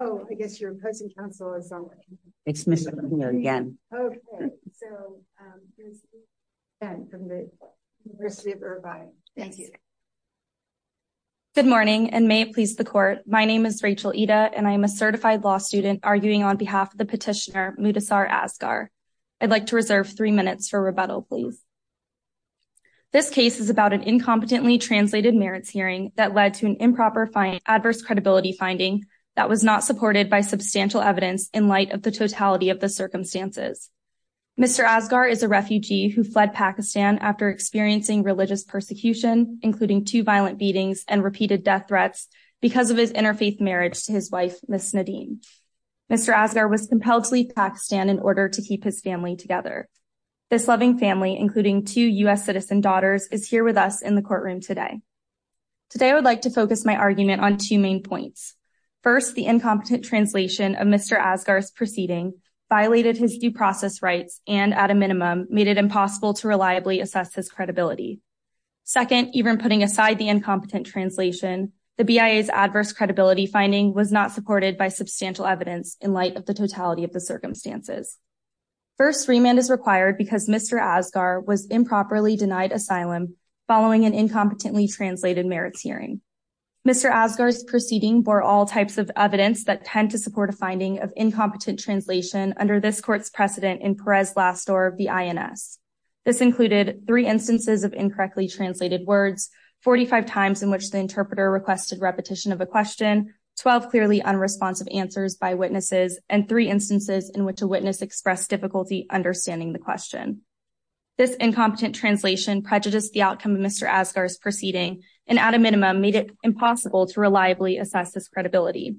Good morning and may it please the court, my name is Rachel Eda and I am a certified law student arguing on behalf of the petitioner Mudassar Asghar. I'd like to reserve three minutes for rebuttal please. This case is about an incompetently translated merits hearing that led to an improper adverse credibility finding that was not supported by substantial evidence in light of the totality of the circumstances. Mr. Asghar is a refugee who fled Pakistan after experiencing religious persecution including two violent beatings and repeated death threats because of his interfaith marriage to his wife Ms. Nadine. Mr. Asghar was compelled to leave Pakistan in order to keep his family together. This loving family including two U.S. citizen daughters is here with us in the courtroom today. Today I would like to focus my argument on two main points. First, the incompetent translation of Mr. Asghar's proceeding violated his due process rights and at a minimum made it impossible to reliably assess his credibility. Second, even putting aside the incompetent translation the BIA's adverse credibility finding was not supported by substantial evidence in light of the totality of the circumstances. First, remand is required because Mr. Asghar was incompetently translated merits hearing. Mr. Asghar's proceeding bore all types of evidence that tend to support a finding of incompetent translation under this court's precedent in Perez Lastor of the INS. This included three instances of incorrectly translated words, 45 times in which the interpreter requested repetition of a question, 12 clearly unresponsive answers by witnesses, and three instances in which a witness expressed difficulty understanding the proceeding and at a minimum made it impossible to reliably assess this credibility.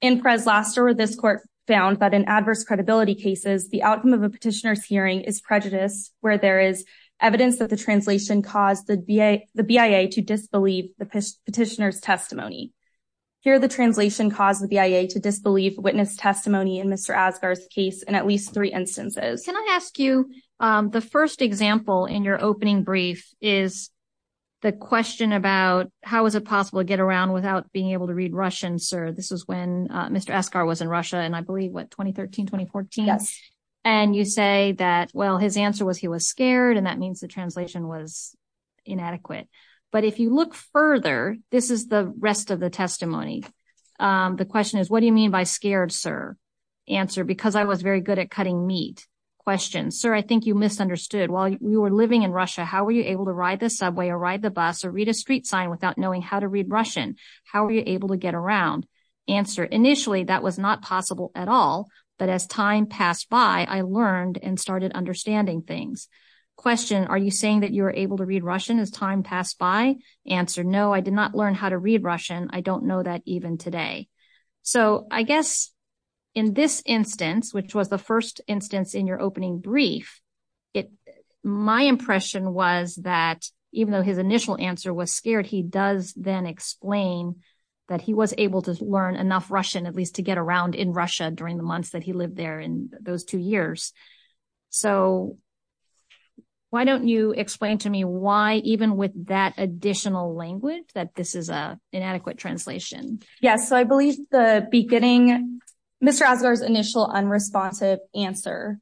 In Perez Lastor, this court found that in adverse credibility cases the outcome of a petitioner's hearing is prejudice where there is evidence that the translation caused the BIA to disbelieve the petitioner's testimony. Here the translation caused the BIA to disbelieve witness testimony in Mr. Asghar's case in at least three instances. Can I ask you the first example in your opening brief is the question about how is it possible to get around without being able to read Russian, sir? This was when Mr. Asghar was in Russia and I believe what, 2013, 2014? Yes. And you say that, well, his answer was he was scared and that means the translation was inadequate. But if you look further, this is the rest of the testimony. The question is, what do you mean by scared, sir? Answer, because I was very good at cutting meat. Question, sir, I think you misunderstood. While we were living in Russia, how were you able to ride the subway or ride the bus or read a street sign without knowing how to read Russian? How were you able to get around? Answer, initially that was not possible at all. But as time passed by, I learned and started understanding things. Question, are you saying that you were able to read Russian as time passed by? Answer, no, I did not learn how to read Russian. I don't know that even today. So I guess in this instance, which was the first instance in your opening brief, my impression was that even though his initial answer was scared, he does then explain that he was able to learn enough Russian, at least to get around in Russia during the months that he lived there in those two years. So why don't you explain to me why, even with that additional language, that this is an inadequate translation? Yes. So I believe the initial unresponsive answer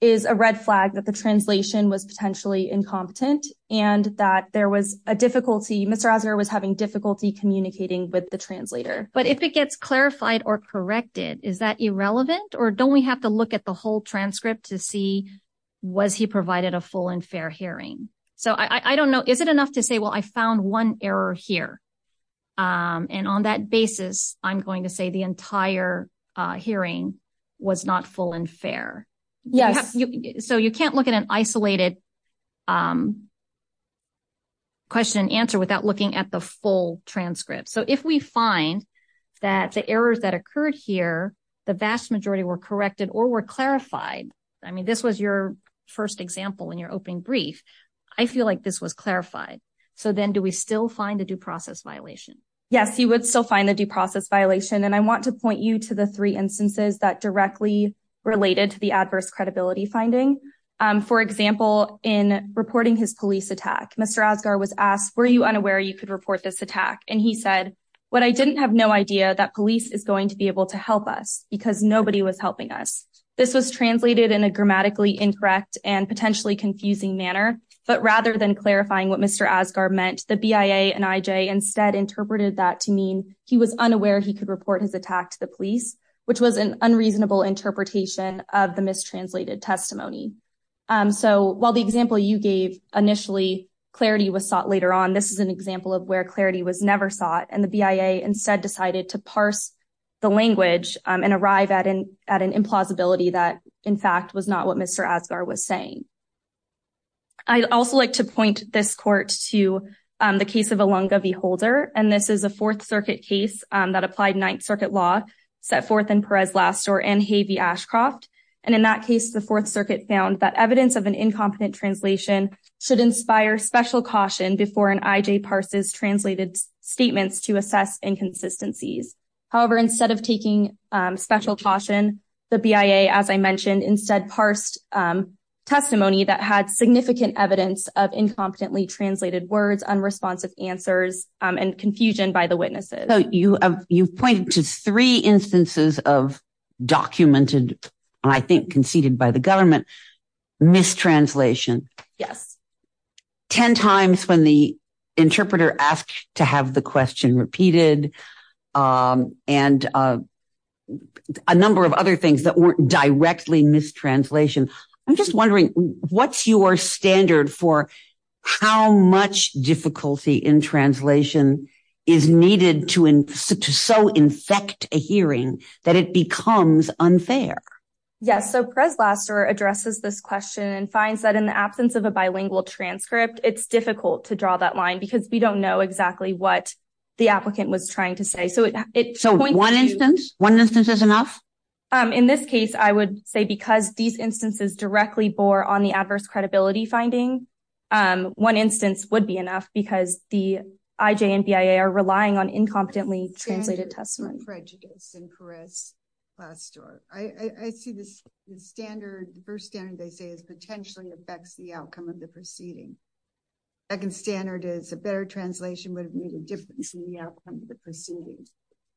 is a red flag that the translation was potentially incompetent and that there was a difficulty, Mr. Azar was having difficulty communicating with the translator. But if it gets clarified or corrected, is that irrelevant? Or don't we have to look at the whole transcript to see, was he provided a full and fair hearing? So I don't know, is it enough to say, well, I found one error here. And on that basis, I'm going to say the entire hearing was not full and fair. Yes. So you can't look at an isolated question and answer without looking at the full transcript. So if we find that the errors that occurred here, the vast majority were corrected or were clarified. I mean, this was your first example in your opening brief. I feel like this was clarified. So then do we still find a due process violation? Yes, you would still find the due process violation. And I want to point you to the three instances that directly related to the adverse credibility finding. For example, in reporting his police attack, Mr. Azar was asked, were you unaware you could report this attack? And he said, what I didn't have no idea that police is going to be able to help us because nobody was helping us. This was translated in a grammatically incorrect and potentially confusing manner. But rather than clarifying what Mr. Azar meant, the BIA and IJ instead interpreted that to mean he was unaware he could report his attack to the police, which was an unreasonable interpretation of the mistranslated testimony. So while the example you gave initially clarity was sought later on, this is an example of where clarity was never sought. The BIA instead decided to parse the language and arrive at an implausibility that, in fact, was not what Mr. Azar was saying. I'd also like to point this court to the case of Alunga v. Holder. This is a Fourth Circuit case that applied Ninth Circuit law set forth in Perez-Lastor and Hay v. Ashcroft. In that case, the Fourth Circuit found that evidence of an incompetent translation should inspire special caution before an IJ parses translated statements to assess inconsistencies. However, instead of taking special caution, the BIA, as I mentioned, instead parsed testimony that had significant evidence of incompetently translated words, unresponsive answers, and confusion by the witnesses. So you've pointed to three instances of documented, I think conceded by the government, mistranslation. Yes. Ten times when the interpreter asked to have the question repeated, and a number of other things that weren't directly mistranslation. I'm just wondering, what's your standard for how much difficulty in translation is needed to so infect a hearing that it becomes unfair? Yes. So Perez-Lastor addresses this question and finds that in the absence of a bilingual transcript, it's difficult to draw that line because we don't know exactly what the applicant was trying to say. So one instance, one instance is enough? In this case, I would say because these instances directly bore on the adverse credibility finding, one instance would be enough because the IJ and BIA are relying on incompetently translated prejudice and Perez-Lastor. I see the standard, the first standard they say is potentially affects the outcome of the proceeding. Second standard is a better translation would have made a difference in the outcome of the proceedings.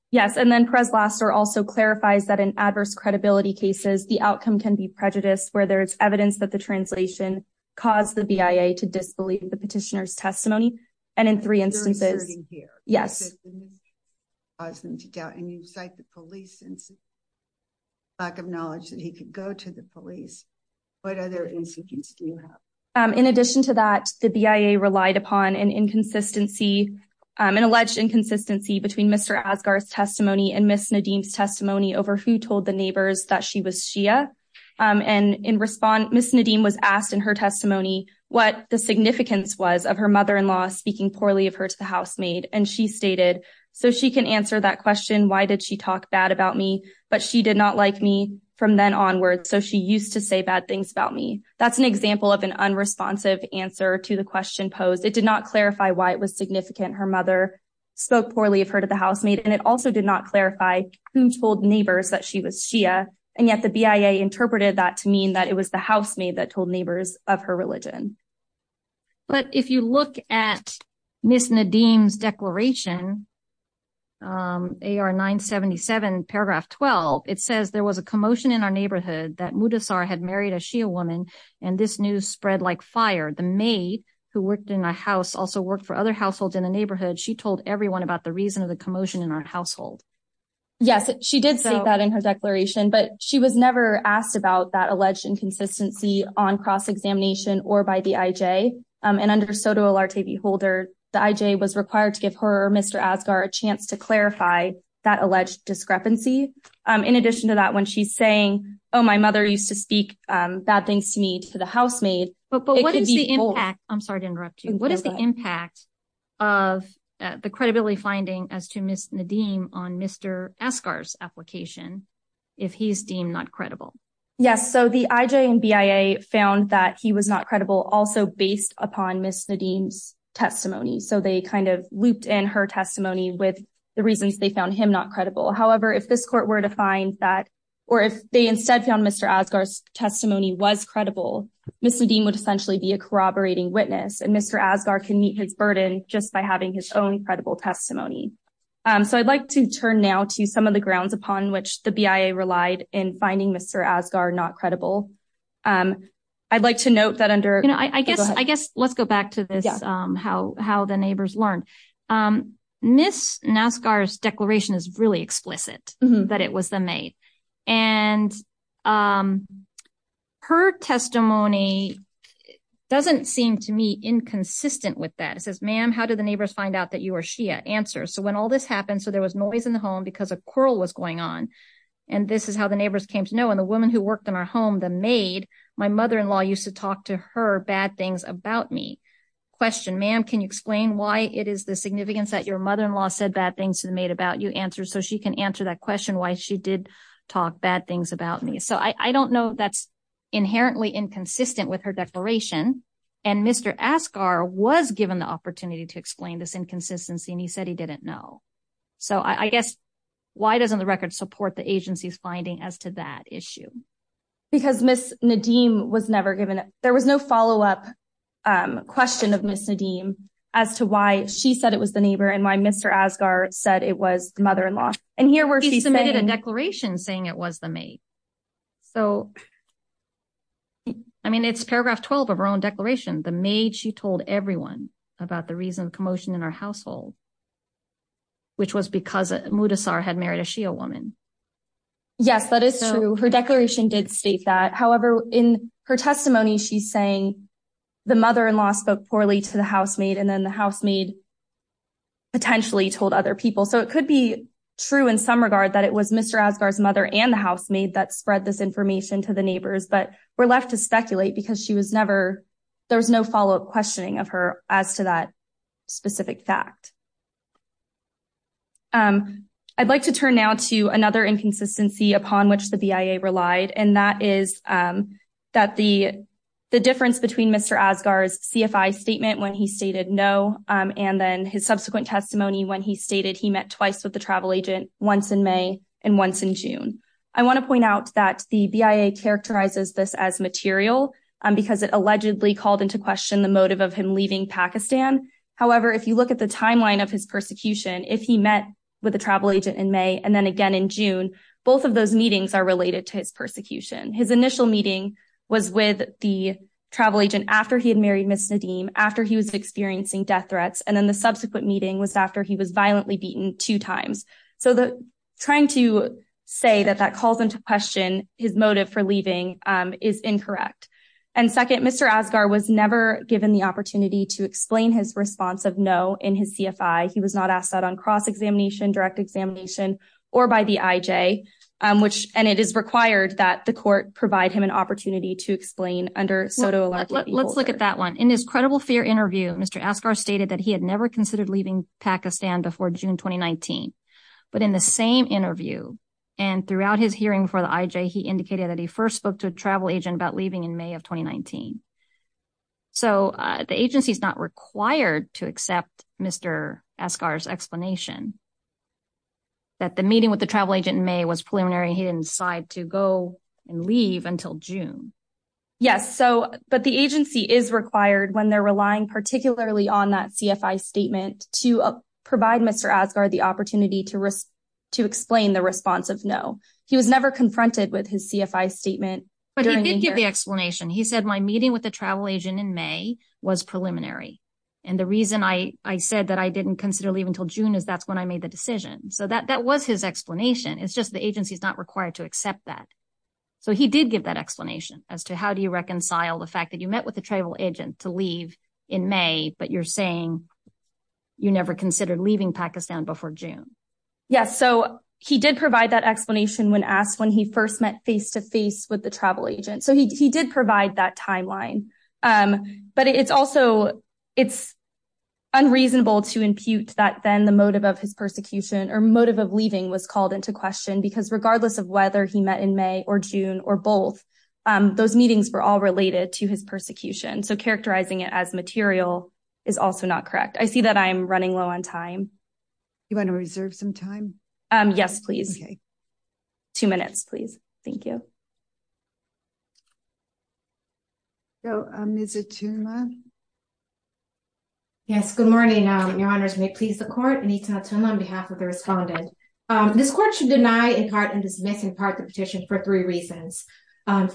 Yes. And then Perez-Lastor also clarifies that in adverse credibility cases, the outcome can be prejudiced where there's evidence that the translation caused the BIA to disbelieve the petitioner's testimony. And in three instances, yes. And you cite the police and lack of knowledge that he could go to the police. What other incidents do you have? In addition to that, the BIA relied upon an inconsistency, an alleged inconsistency between Mr. Asghar's testimony and Ms. Nadeem's testimony over who told the neighbors that she was Shia. And in response, Ms. Nadeem was asked in her speaking poorly of her to the housemaid. And she stated, so she can answer that question, why did she talk bad about me? But she did not like me from then onwards. So she used to say bad things about me. That's an example of an unresponsive answer to the question posed. It did not clarify why it was significant. Her mother spoke poorly of her to the housemaid. And it also did not clarify who told neighbors that she was Shia. And yet the BIA interpreted that to mean it was the housemaid that told neighbors of her religion. But if you look at Ms. Nadeem's declaration, AR 977 paragraph 12, it says there was a commotion in our neighborhood that Mudassar had married a Shia woman. And this news spread like fire. The maid who worked in the house also worked for other households in the neighborhood. She told everyone about the reason of the commotion in our household. Yes, she did say that in her declaration, but she was never asked about that alleged inconsistency on cross-examination or by the IJ. And under SOTA Olarte v. Holder, the IJ was required to give her or Mr. Asghar a chance to clarify that alleged discrepancy. In addition to that, when she's saying, oh, my mother used to speak bad things to me to the housemaid, it could be both. But what is the impact? I'm sorry to interrupt you. What is the impact of the credibility finding as to Ms. Nadeem on Mr. Asghar's application if he's deemed not credible? Yes. So the IJ and BIA found that he was not credible also based upon Ms. Nadeem's testimony. So they kind of looped in her testimony with the reasons they found him not credible. However, if this court were to find that, or if they instead found Mr. Asghar's testimony was credible, Ms. Nadeem would essentially be a corroborating witness. And Mr. Asghar can meet his burden just by having his own credible testimony. So I'd like to turn now to some of the grounds upon which the BIA relied in finding Mr. Asghar not credible. I'd like to note that under... I guess let's go back to this, how the neighbors learned. Ms. Naskar's declaration is really explicit that it was the maid. And her testimony doesn't seem to me inconsistent with that. It says, ma'am, how did the neighbors find out that you or she had answers? So when all this happened, so there was noise in the home because a quarrel was going on. And this is how the neighbors came to know. And the woman who worked in our home, the maid, my mother-in-law used to talk to her bad things about me. Question, ma'am, can you explain why it is the significance that your mother-in-law said bad things to the maid about you? Answer so she can answer that question why she did talk bad things about me. So I don't know that's inherently inconsistent with her declaration. And Mr. Asghar was given the opportunity to explain this inconsistency and he said he didn't know. So I guess, why doesn't the record support the agency's finding as to that issue? Because Ms. Nadeem was never given... There was no follow-up question of Ms. Nadeem as to why she said it was the neighbor and why Mr. Asghar said it was the mother-in-law. And here where she submitted a declaration saying it was the maid. So I mean, it's paragraph 12 of her own declaration. The maid, she told everyone about the reason of commotion in our household, which was because Mudassar had married a Shia woman. Yes, that is true. Her declaration did state that. However, in her testimony, she's saying the mother-in-law spoke poorly to the housemaid and then the housemaid potentially told other people. So it could be true in some regard that it was Mr. Asghar's mother and the housemaid that spread this information to the neighbors. But we're there was no follow-up questioning of her as to that specific fact. I'd like to turn now to another inconsistency upon which the BIA relied. And that is that the difference between Mr. Asghar's CFI statement when he stated no, and then his subsequent testimony when he stated he met twice with the travel agent, once in May and once in June. And it allegedly called into question the motive of him leaving Pakistan. However, if you look at the timeline of his persecution, if he met with a travel agent in May, and then again in June, both of those meetings are related to his persecution. His initial meeting was with the travel agent after he had married Ms. Nadeem, after he was experiencing death threats. And then the subsequent meeting was after he was violently beaten two times. So trying to say that that calls into question his motive for leaving is incorrect. And second, Mr. Asghar was never given the opportunity to explain his response of no in his CFI. He was not asked that on cross-examination, direct examination, or by the IJ. And it is required that the court provide him an opportunity to explain under pseudo-alert. Let's look at that one. In his credible fear interview, Mr. Asghar stated that he had never considered leaving Pakistan before June 2019. But in the same interview, and throughout his hearing for the IJ, he indicated that he first spoke to a travel agent about leaving in May of 2019. So the agency is not required to accept Mr. Asghar's explanation, that the meeting with the travel agent in May was preliminary, he didn't decide to go and leave until June. Yes, so but the agency is required when they're to risk to explain the response of no. He was never confronted with his CFI statement. But he did give the explanation. He said my meeting with the travel agent in May was preliminary. And the reason I said that I didn't consider leaving until June is that's when I made the decision. So that was his explanation. It's just the agency is not required to accept that. So he did give that explanation as to how do you reconcile the fact that you met with a travel agent to leave in May, but you're saying you never considered leaving Pakistan before June. Yes. So he did provide that explanation when asked when he first met face to face with the travel agent. So he did provide that timeline. But it's also, it's unreasonable to impute that then the motive of his persecution or motive of leaving was called into question because regardless of whether he met in May or June, or both, those meetings were all related to his persecution. So characterizing it as material is also not correct. I see that I'm running low on time. You want to reserve some time? Yes, please. Okay. Two minutes, please. Thank you. So, Ms. Atuma. Yes, good morning, Your Honors. May it please the court. Anita Atuma on behalf of the respondent. This court should deny in part and dismiss in part the petition for three reasons.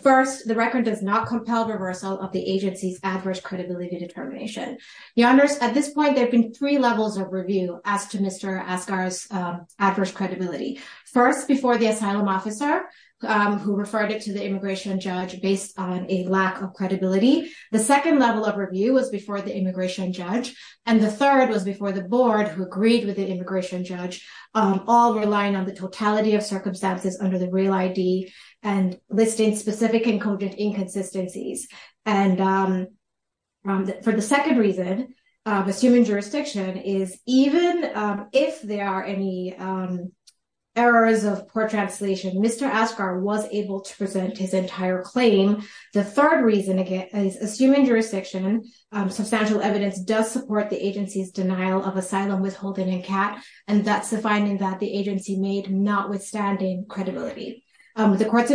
First, the record does not compel reversal of the agency's adverse credibility determination. Your Honors, at this point, there have been three levels of review as to Mr. Asghar's adverse credibility. First, before the asylum officer, who referred it to the immigration judge based on a lack of credibility. The second level of review was before the immigration judge. And the third was before the board who agreed with the immigration judge, all relying on the totality of circumstances under the real ID and listing specific encoded inconsistencies. And for the second reason, assuming jurisdiction, is even if there are any errors of poor translation, Mr. Asghar was able to present his entire claim. The third reason, again, is assuming jurisdiction, substantial evidence does support the agency's denial of asylum withholding in CAAT. And that's the finding that the agency made notwithstanding credibility. The court's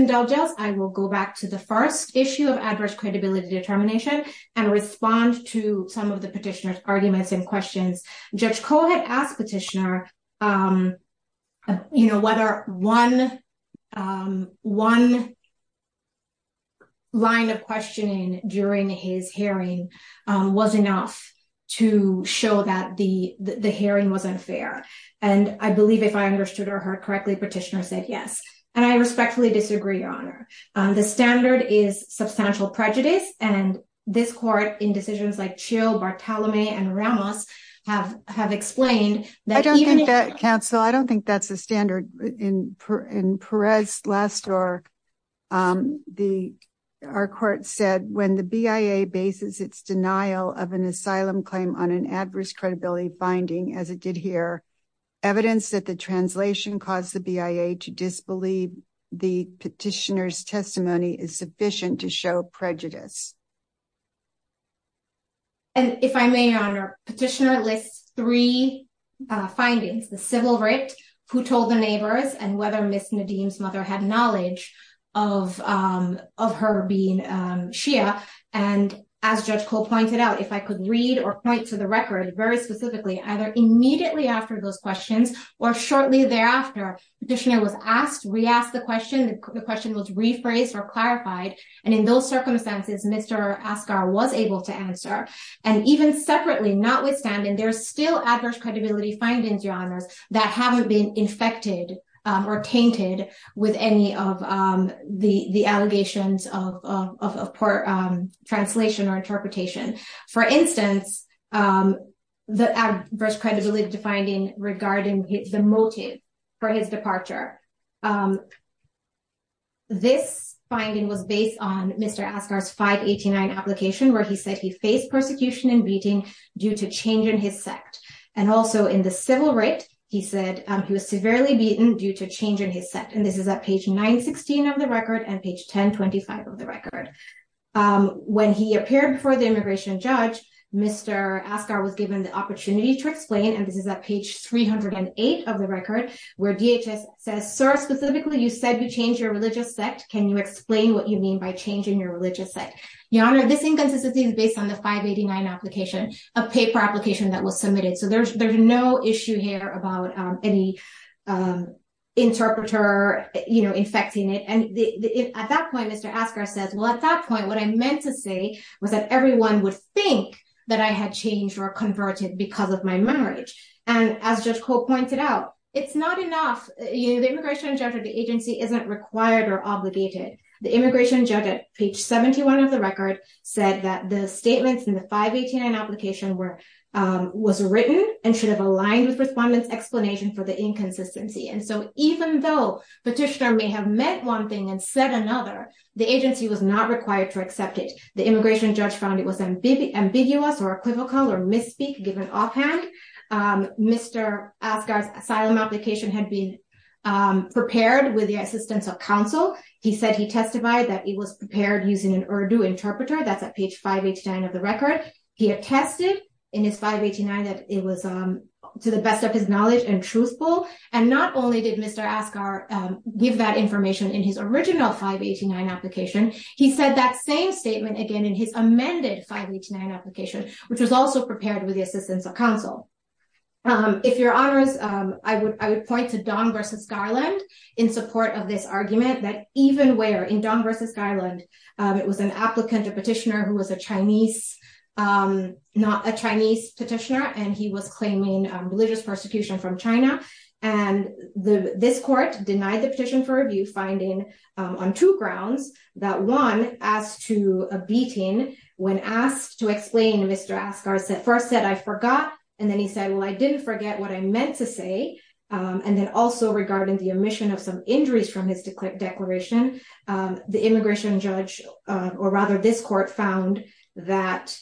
determination and respond to some of the petitioner's arguments and questions. Judge Koh had asked petitioner, you know, whether one line of questioning during his hearing was enough to show that the hearing was unfair. And I believe if I understood her correctly, petitioner said yes. And I respectfully disagree, Your Honor. The standard is substantial prejudice. And this court in decisions like Chill, Bartolome, and Ramos have have explained that- I don't think that counsel, I don't think that's a standard. In Perez last year, the our court said when the BIA bases its denial of an asylum claim on an adverse credibility finding, as it did here, evidence that the translation caused the BIA to disbelieve the petitioner's testimony is sufficient to show prejudice. And if I may, Your Honor, petitioner lists three findings, the civil writ, who told the neighbors, and whether Ms. Nadeem's mother had knowledge of her being Shia. And as Judge Koh pointed out, if I could read or point to the record very specifically, either immediately after those questions, or shortly thereafter, petitioner was asked, re-asked the question, the question was rephrased or clarified. And in those circumstances, Mr. Asghar was able to answer. And even separately, notwithstanding, there's still adverse credibility findings, Your Honors, that haven't been infected or tainted with any of the allegations of poor translation or interpretation. For instance, the adverse credibility finding regarding the motive for his departure. This finding was based on Mr. Asghar's 589 application, where he said he faced persecution and beating due to change in his sect. And also in the civil writ, he said he was severely beaten due to change in his sect. And this is at page 916 of the record and page 1025 of the record. When he appeared before the immigration judge, Mr. Asghar was given the opportunity to explain, and this is at page 308 of the record, where DHS says, Sir, specifically, you said you changed your religious sect. Can you explain what you mean by changing your religious sect? Your Honor, this inconsistency is based on the 589 application, a paper application that was submitted. So there's no issue here about any interpreter, you know, infecting it. And at that point, Mr. Asghar says, well, at that point, what I meant to say was that everyone would think that I had changed or converted because of my marriage. And as Judge Cole pointed out, it's not enough. You know, the immigration judge or the agency isn't required or obligated. The immigration judge at page 71 of the record said that the statements in the 589 application was written and should have aligned with respondents' explanation for the inconsistency. And so even though petitioner may have meant one thing and said another, the agency was not required to accept it. The immigration judge found it was ambiguous or equivocal or misspeak, given offhand. Mr. Asghar's asylum application had been prepared with the assistance of counsel. He said he testified that it was prepared using an Urdu interpreter. That's at page 589 of the record. He attested in his 589 that it was to the best of his knowledge and truthful. And not only did Mr. Asghar give that information in his original 589 application, he said that same statement again in his amended 589 application, which was also prepared with the assistance of counsel. If Your Honors, I would point to Don versus Garland in support of this argument that even where in Don versus Garland, it was an applicant, a petitioner who was a Chinese, not a Chinese petitioner, and he was claiming religious persecution from China. And this court denied the petition for review, finding on two grounds that one, as to a beating when asked to explain, Mr. Asghar first said, I forgot. And then he said, well, I didn't forget what I meant to say. And then also regarding the omission of some injuries from his declaration, the immigration judge, or rather this court, found that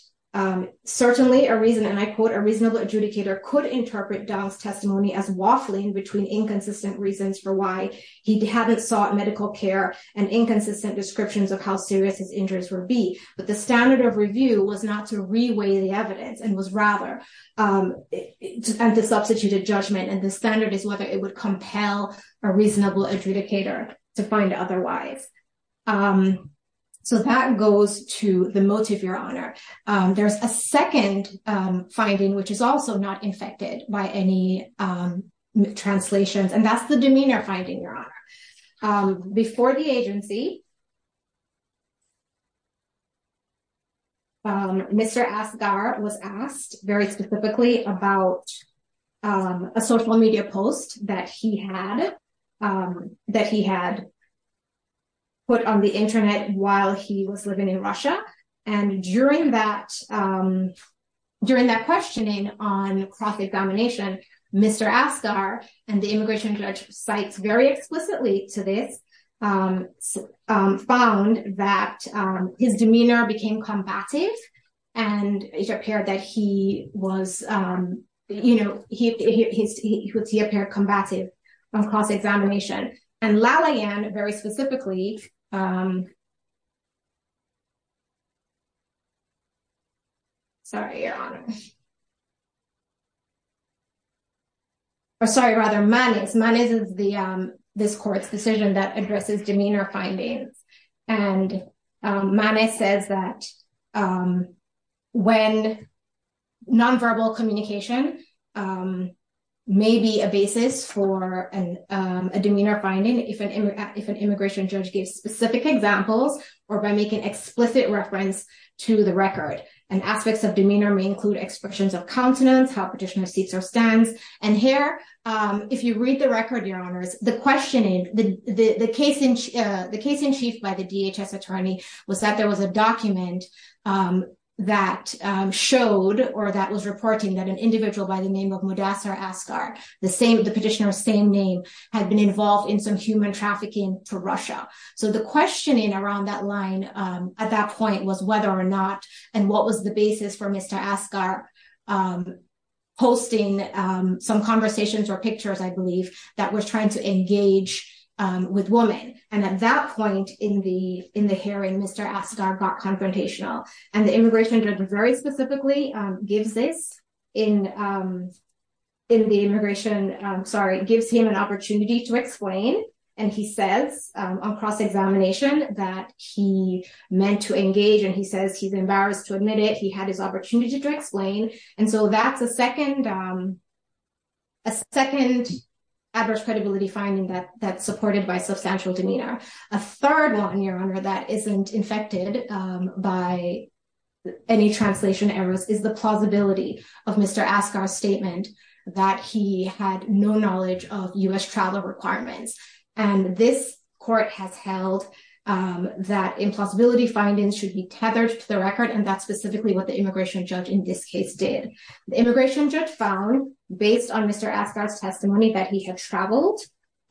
certainly a reason, and I quote, a reasonable adjudicator could interpret Don's testimony as waffling between inconsistent reasons for why he hadn't sought medical care and inconsistent descriptions of how serious his injuries would be. But the standard of review was not to reweigh the evidence and was rather to substitute a judgment. And the standard is whether it would compel a reasonable adjudicator to find otherwise. So that goes to the motive, Your Honor. There's a second finding, which is also not infected by any translations, and that's the demeanor finding, Your Honor. Before the agency, Mr. Asghar was asked very specifically about a social media post that he had put on the internet while he was living in Russia. And during that questioning on found that his demeanor became combative. And it appeared that he was, you know, he would see a pair combative across examination. And Lalliane very specifically. Sorry, Your Honor. Or sorry, rather, Manis. Manis is this court's decision that addresses demeanor findings. And Manis says that when nonverbal communication may be a basis for a demeanor finding, if an immigration judge gives specific examples, or by making explicit reference to the record, and aspects of demeanor may include expressions of countenance, how petitioner seats or stands. And here, if you read the record, Your Honors, the questioning, the case in chief by the DHS attorney was that there was a document that showed or that was reporting that an individual by the name of Mudassar Asghar, the petitioner's same name, had been involved in some human trafficking to Russia. So the questioning around that line at that point was whether or not, and what was the basis for Mr. Asghar posting some conversations or pictures, I believe, that was trying to engage with women. And at that point in the hearing, Mr. Asghar got confrontational. And the immigration judge very specifically gives this in the immigration, sorry, gives him an opportunity to explain. And he says, across examination, that he meant to admit it, he had his opportunity to explain. And so that's a second adverse credibility finding that that's supported by substantial demeanor. A third one, Your Honor, that isn't infected by any translation errors is the plausibility of Mr. Asghar's statement that he had no knowledge of U.S. travel requirements. And this court has held that implausibility findings should be what the immigration judge in this case did. The immigration judge found, based on Mr. Asghar's testimony, that he had traveled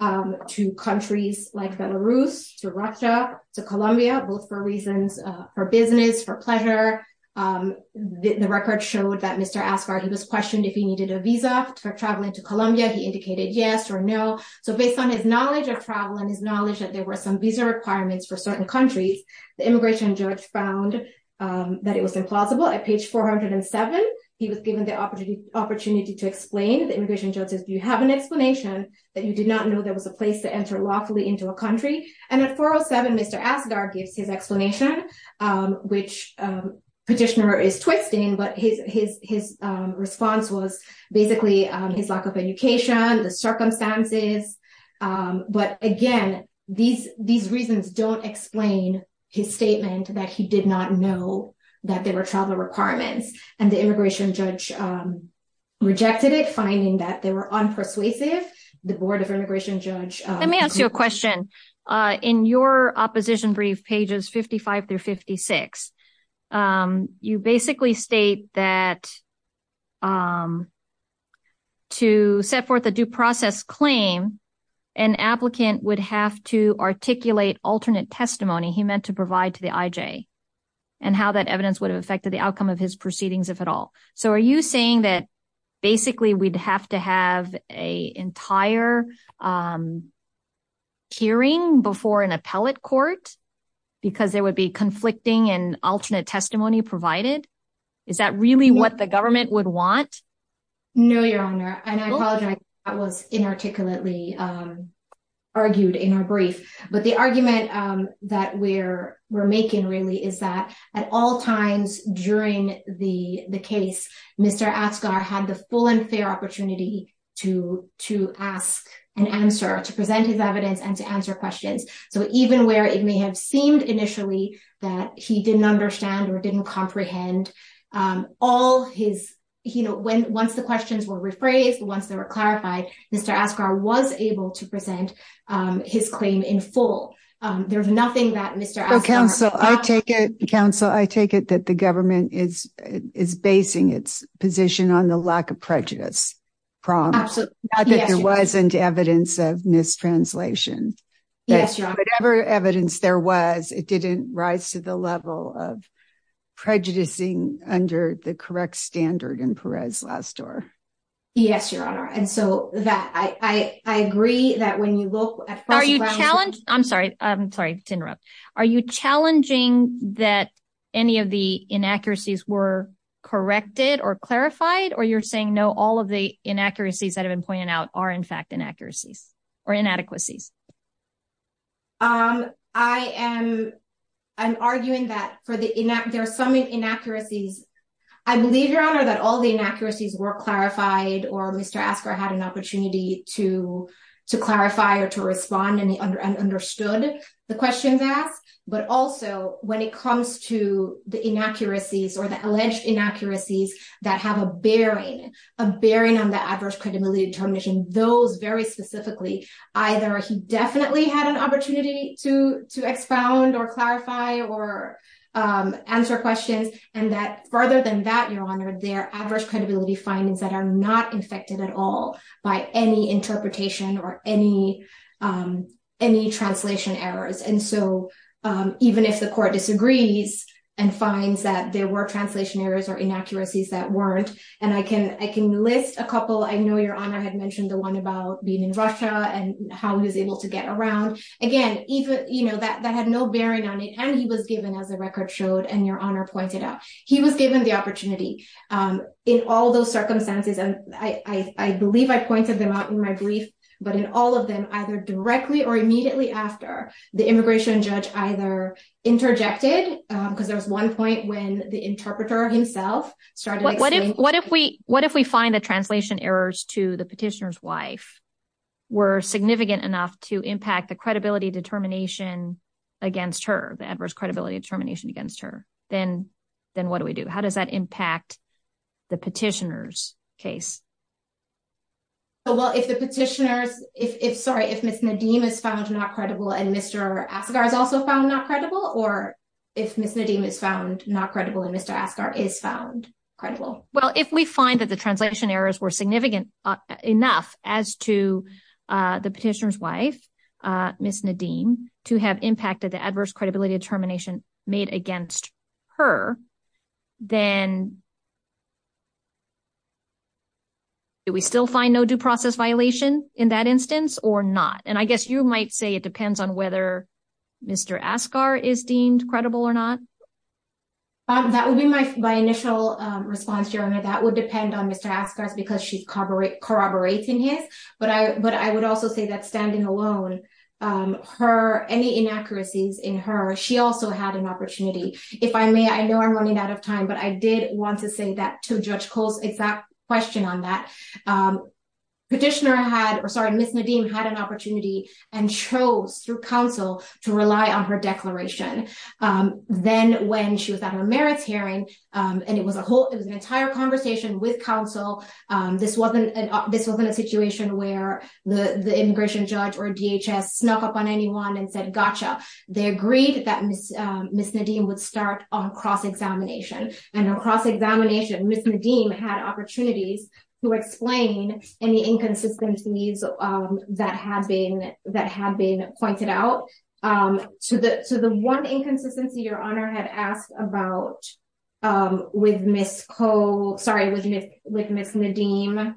to countries like Belarus, to Russia, to Colombia, both for reasons for business, for pleasure. The record showed that Mr. Asghar, he was questioned if he needed a visa for traveling to Colombia, he indicated yes or no. So based on his knowledge of travel and his knowledge that there were some visa requirements for certain countries, the immigration judge found that it was implausible. At page 407, he was given the opportunity to explain. The immigration judge says, do you have an explanation that you did not know there was a place to enter lawfully into a country? And at 407, Mr. Asghar gives his explanation, which petitioner is twisting, but his response was basically his lack of education, the that he did not know that there were travel requirements. And the immigration judge rejected it, finding that they were unpersuasive. The board of immigration judge- Let me ask you a question. In your opposition brief, pages 55 through 56, you basically state that to set forth a due process claim, an applicant would have to articulate alternate testimony he meant to provide to the IJ, and how that evidence would have affected the outcome of his proceedings, if at all. So are you saying that basically we'd have to have an entire hearing before an appellate court, because there would be conflicting and alternate testimony provided? Is that really what the government would want? No, Your Honor. And I apologize, that was inarticulately argued in our brief. But the we're making really is that at all times during the case, Mr. Asghar had the full and fair opportunity to ask an answer, to present his evidence and to answer questions. So even where it may have seemed initially that he didn't understand or didn't comprehend, once the questions were rephrased, once they were clarified, Mr. Asghar was able to present his claim in full. There's nothing that Mr. Asghar- Counsel, I take it that the government is basing its position on the lack of prejudice, prom. Not that there wasn't evidence of mistranslation. Yes, Your Honor. Whatever evidence there was, it didn't rise to the level of prejudicing under the correct standard in Perez last door. Yes, Your Honor. And so that I agree that when you look at- I'm sorry, I'm sorry to interrupt. Are you challenging that any of the inaccuracies were corrected or clarified? Or you're saying no, all of the inaccuracies that have been pointed out are in fact inaccuracies or inadequacies? I'm arguing that there are some inaccuracies. I believe, Your Honor, that all the inaccuracies were clarified or Mr. Asghar had an opportunity to clarify or to respond and understood the questions asked. But also when it comes to the inaccuracies or the alleged inaccuracies that have a bearing, a bearing on the adverse credibility determination, those very specifically, either he definitely had an opportunity to expound or clarify or answer questions. And that further than that, Your Honor, there are adverse credibility findings that are not infected at all by any interpretation or any translation errors. And so even if the court disagrees and finds that there were translation errors or inaccuracies that weren't, and I can list a couple. I know Your Honor had mentioned the one about being in Russia and how he was able to get around. Again, that had no bearing on it. And he was given, as the record showed, and Your Honor pointed out, he was given the opportunity. In all those circumstances, and I believe I pointed them out in my brief, but in all of them, either directly or immediately after, the immigration judge either interjected, because there was one point when the interpreter himself started. What if we find that translation errors to the petitioner's wife were significant enough to impact the credibility determination against her, the adverse credibility determination against her? Then what do we do? How does that impact the petitioner's case? Well, if the petitioner's, if, sorry, if Ms. Nadim is found not credible and Mr. Asghar is also found not credible, or if Ms. Nadim is found not credible and Mr. Asghar is found credible? Well, if we find that the translation errors were significant enough as to the petitioner's wife, Ms. Nadim, to have impacted the adverse credibility determination made against her, then do we still find no due process violation in that instance or not? And I guess you might say it depends on whether Mr. Asghar is deemed credible or not. That would be my initial response, Your Honor. That would depend on Mr. Asghar's, corroborating his, but I would also say that standing alone, her, any inaccuracies in her, she also had an opportunity. If I may, I know I'm running out of time, but I did want to say that to Judge Coles, it's that question on that. Petitioner had, or sorry, Ms. Nadim had an opportunity and chose through counsel to rely on her declaration. Then when she was at her this wasn't a situation where the immigration judge or DHS snuck up on anyone and said, gotcha. They agreed that Ms. Nadim would start on cross-examination. And on cross-examination, Ms. Nadim had opportunities to explain any inconsistencies that had been pointed out. So the one inconsistency Your Honor had asked about with Ms. Cole, sorry, with Ms. Nadim,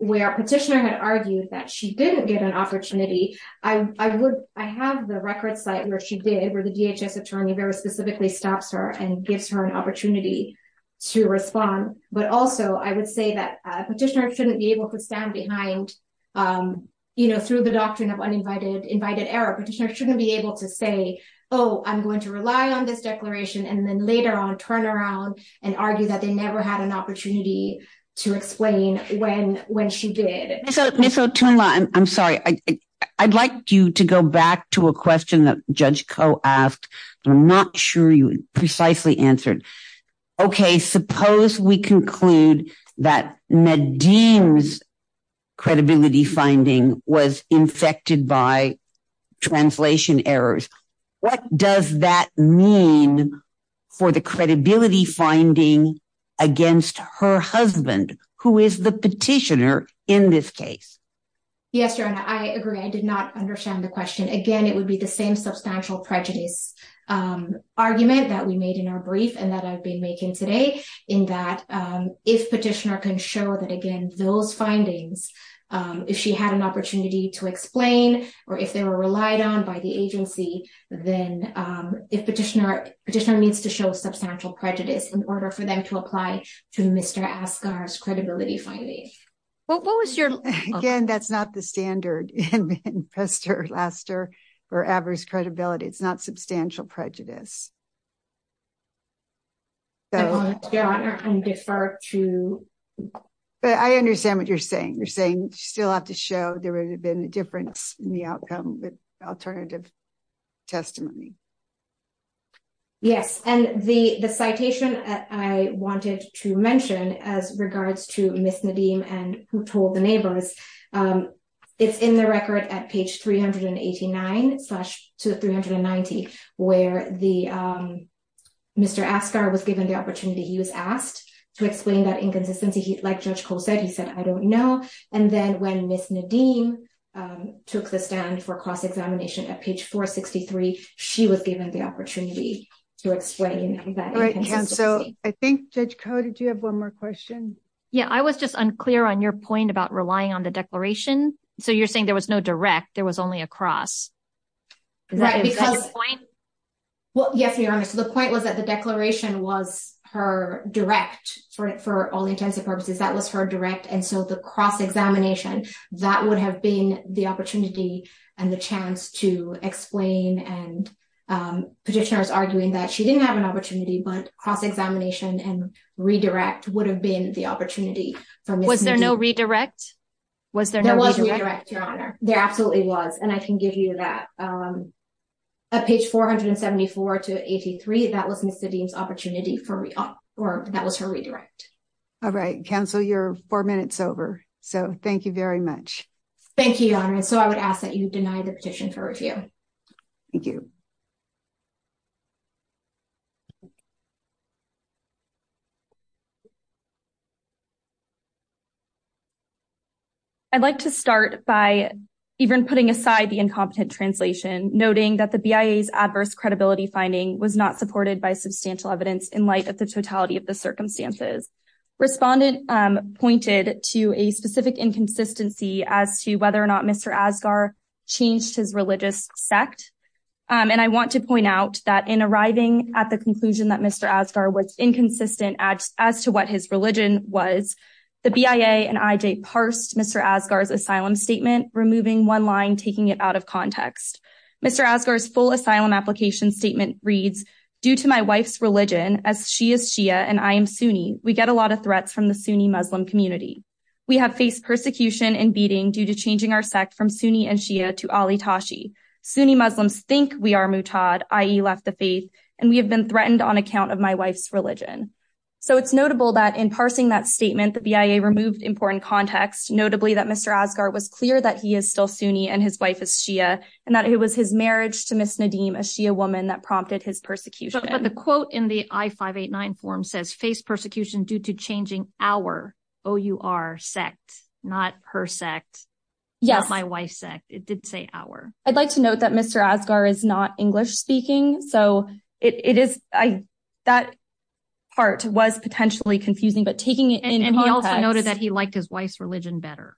where petitioner had argued that she didn't get an opportunity. I would, I have the record site where she did where the DHS attorney very specifically stops her and gives her an opportunity to respond. But also I would say that petitioner shouldn't be able to stand behind, um, you know, through the doctrine of uninvited, invited error. Petitioner shouldn't be able to say, oh, I'm going to rely on this declaration. And then later on turn around and argue that they never had an opportunity to explain when, when she did. Ms. Otunla, I'm sorry. I'd like you to go back to a question that Judge Cole asked. I'm not sure you precisely answered. Okay. Suppose we conclude that Nadim's credibility finding was infected by translation errors. What does that mean for the credibility finding against her husband, who is the petitioner in this case? Yes, Your Honor. I agree. I did not understand the question. Again, it would be the same substantial prejudice, um, argument that we made in our brief and that I've been making today in that, um, if petitioner can show that again, those findings, um, if she had an opportunity to explain, or if they were relied on by the agency, then, um, if petitioner, petitioner needs to show substantial prejudice in order for them to apply to Mr. Asghar's credibility. It's not substantial prejudice. So, Your Honor, I defer to... But I understand what you're saying. You're saying you still have to show there would have been a difference in the outcome with alternative testimony. Yes. And the, the citation I wanted to mention as regards to Ms. Nadim and who told the neighbors, um, it's in the record at page 389 to 390, where the, um, Mr. Asghar was given the opportunity, he was asked to explain that inconsistency. He, like Judge Koh said, he said, I don't know. And then when Ms. Nadim, um, took the stand for cross-examination at page 463, she was given the opportunity to explain that. So I think Judge Koh, did you have one more question? Yeah, I was just unclear on your point about relying on the declaration. So you're saying there was no direct, there was only a cross. Right, because... Is that your point? Well, yes, Your Honor. So the point was that the declaration was her direct, for all intents and purposes, that was her direct. And so the cross-examination, that would have been the opportunity and the chance to explain and, um, petitioners arguing that she didn't have an opportunity. Was there no redirect? Was there no redirect? There was a redirect, Your Honor. There absolutely was. And I can give you that, um, at page 474 to 83, that was Ms. Nadim's opportunity for, or that was her redirect. All right. Counsel, you're four minutes over. So thank you very much. Thank you, Your Honor. And so I would ask that you deny the petition for review. Thank you. I'd like to start by even putting aside the incompetent translation, noting that the BIA's adverse credibility finding was not supported by substantial evidence in light of the totality of the circumstances. Respondent, um, pointed to a specific inconsistency as to whether or not Mr. Asghar changed his religious sect. Um, and I want to point out that in arriving at the conclusion that Mr. Asghar was inconsistent as to what his religion was, the BIA and IJ parsed Mr. Asghar's asylum statement, removing one line, taking it out of context. Mr. Asghar's full asylum application statement reads, due to my wife's religion as she is Shia and I am Sunni, we get a lot of threats from the Sunni Muslim community. We have faced persecution and beating due to changing our sect from Sunni and Shia to Ali Tashi. Sunni Muslims think we are Mutaad, i.e. left the faith, and we have been threatened on account of my wife's religion. So it's notable that in parsing that statement, the BIA removed important context, notably that Mr. Asghar was clear that he is still Sunni and his wife is Shia, and that it was his marriage to Ms. Nadim, a Shia woman, that prompted his persecution. But the quote in the I-589 form faced persecution due to changing our sect, not her sect, not my wife's sect. It did say our. I'd like to note that Mr. Asghar is not English-speaking, so that part was potentially confusing, but taking it in context. And he also noted that he liked his wife's religion better.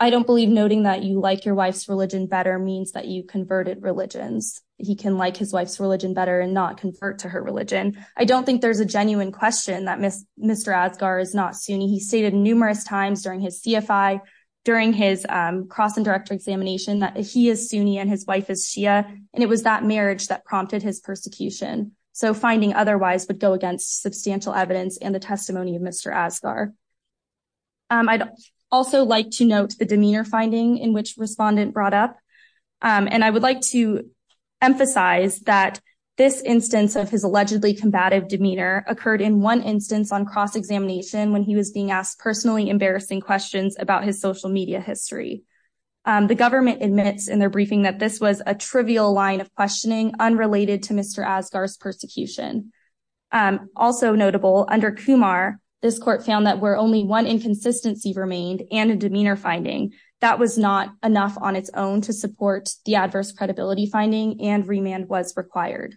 I don't believe noting that you like your wife's religion better means that you converted religions. He can like his wife's religion better and not convert to her religion. I don't think there's a genuine question that Mr. Asghar is not Sunni. He stated numerous times during his CFI, during his cross-and-director examination, that he is Sunni and his wife is Shia, and it was that marriage that prompted his persecution. So finding otherwise would go against substantial evidence and the testimony of Mr. Asghar. I'd also like to note the demeanor finding in which respondent brought up. And I would like to emphasize that this instance of his allegedly combative demeanor occurred in one instance on cross-examination when he was being asked personally embarrassing questions about his social media history. The government admits in their briefing that this was a trivial line of questioning unrelated to Mr. Asghar's persecution. Also notable, under Kumar, this court found that where only one inconsistency remained and a demeanor finding, that was not enough on its own to support the adverse credibility finding and remand was required.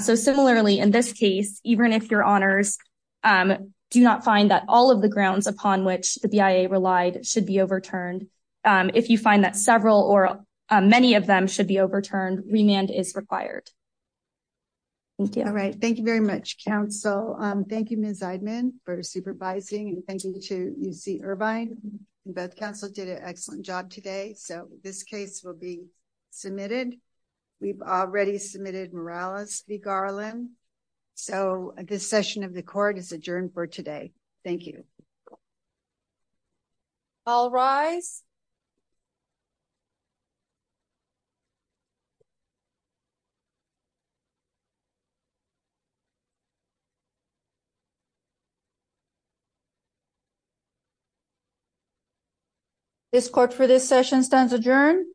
So similarly, in this case, even if your honors do not find that all of the grounds upon which the BIA relied should be overturned, if you find that several or many of them should be overturned, remand is required. Thank you. All right. Thank you very much, counsel. Thank you, Ms. Eidman, for supervising. And thank you to UC Irvine. Both counsels did an excellent job today. So this case will be submitted. We've already submitted Morales v. Garland. So this session of the court is adjourned for today. Thank you. All rise. This court for this session stands adjourned.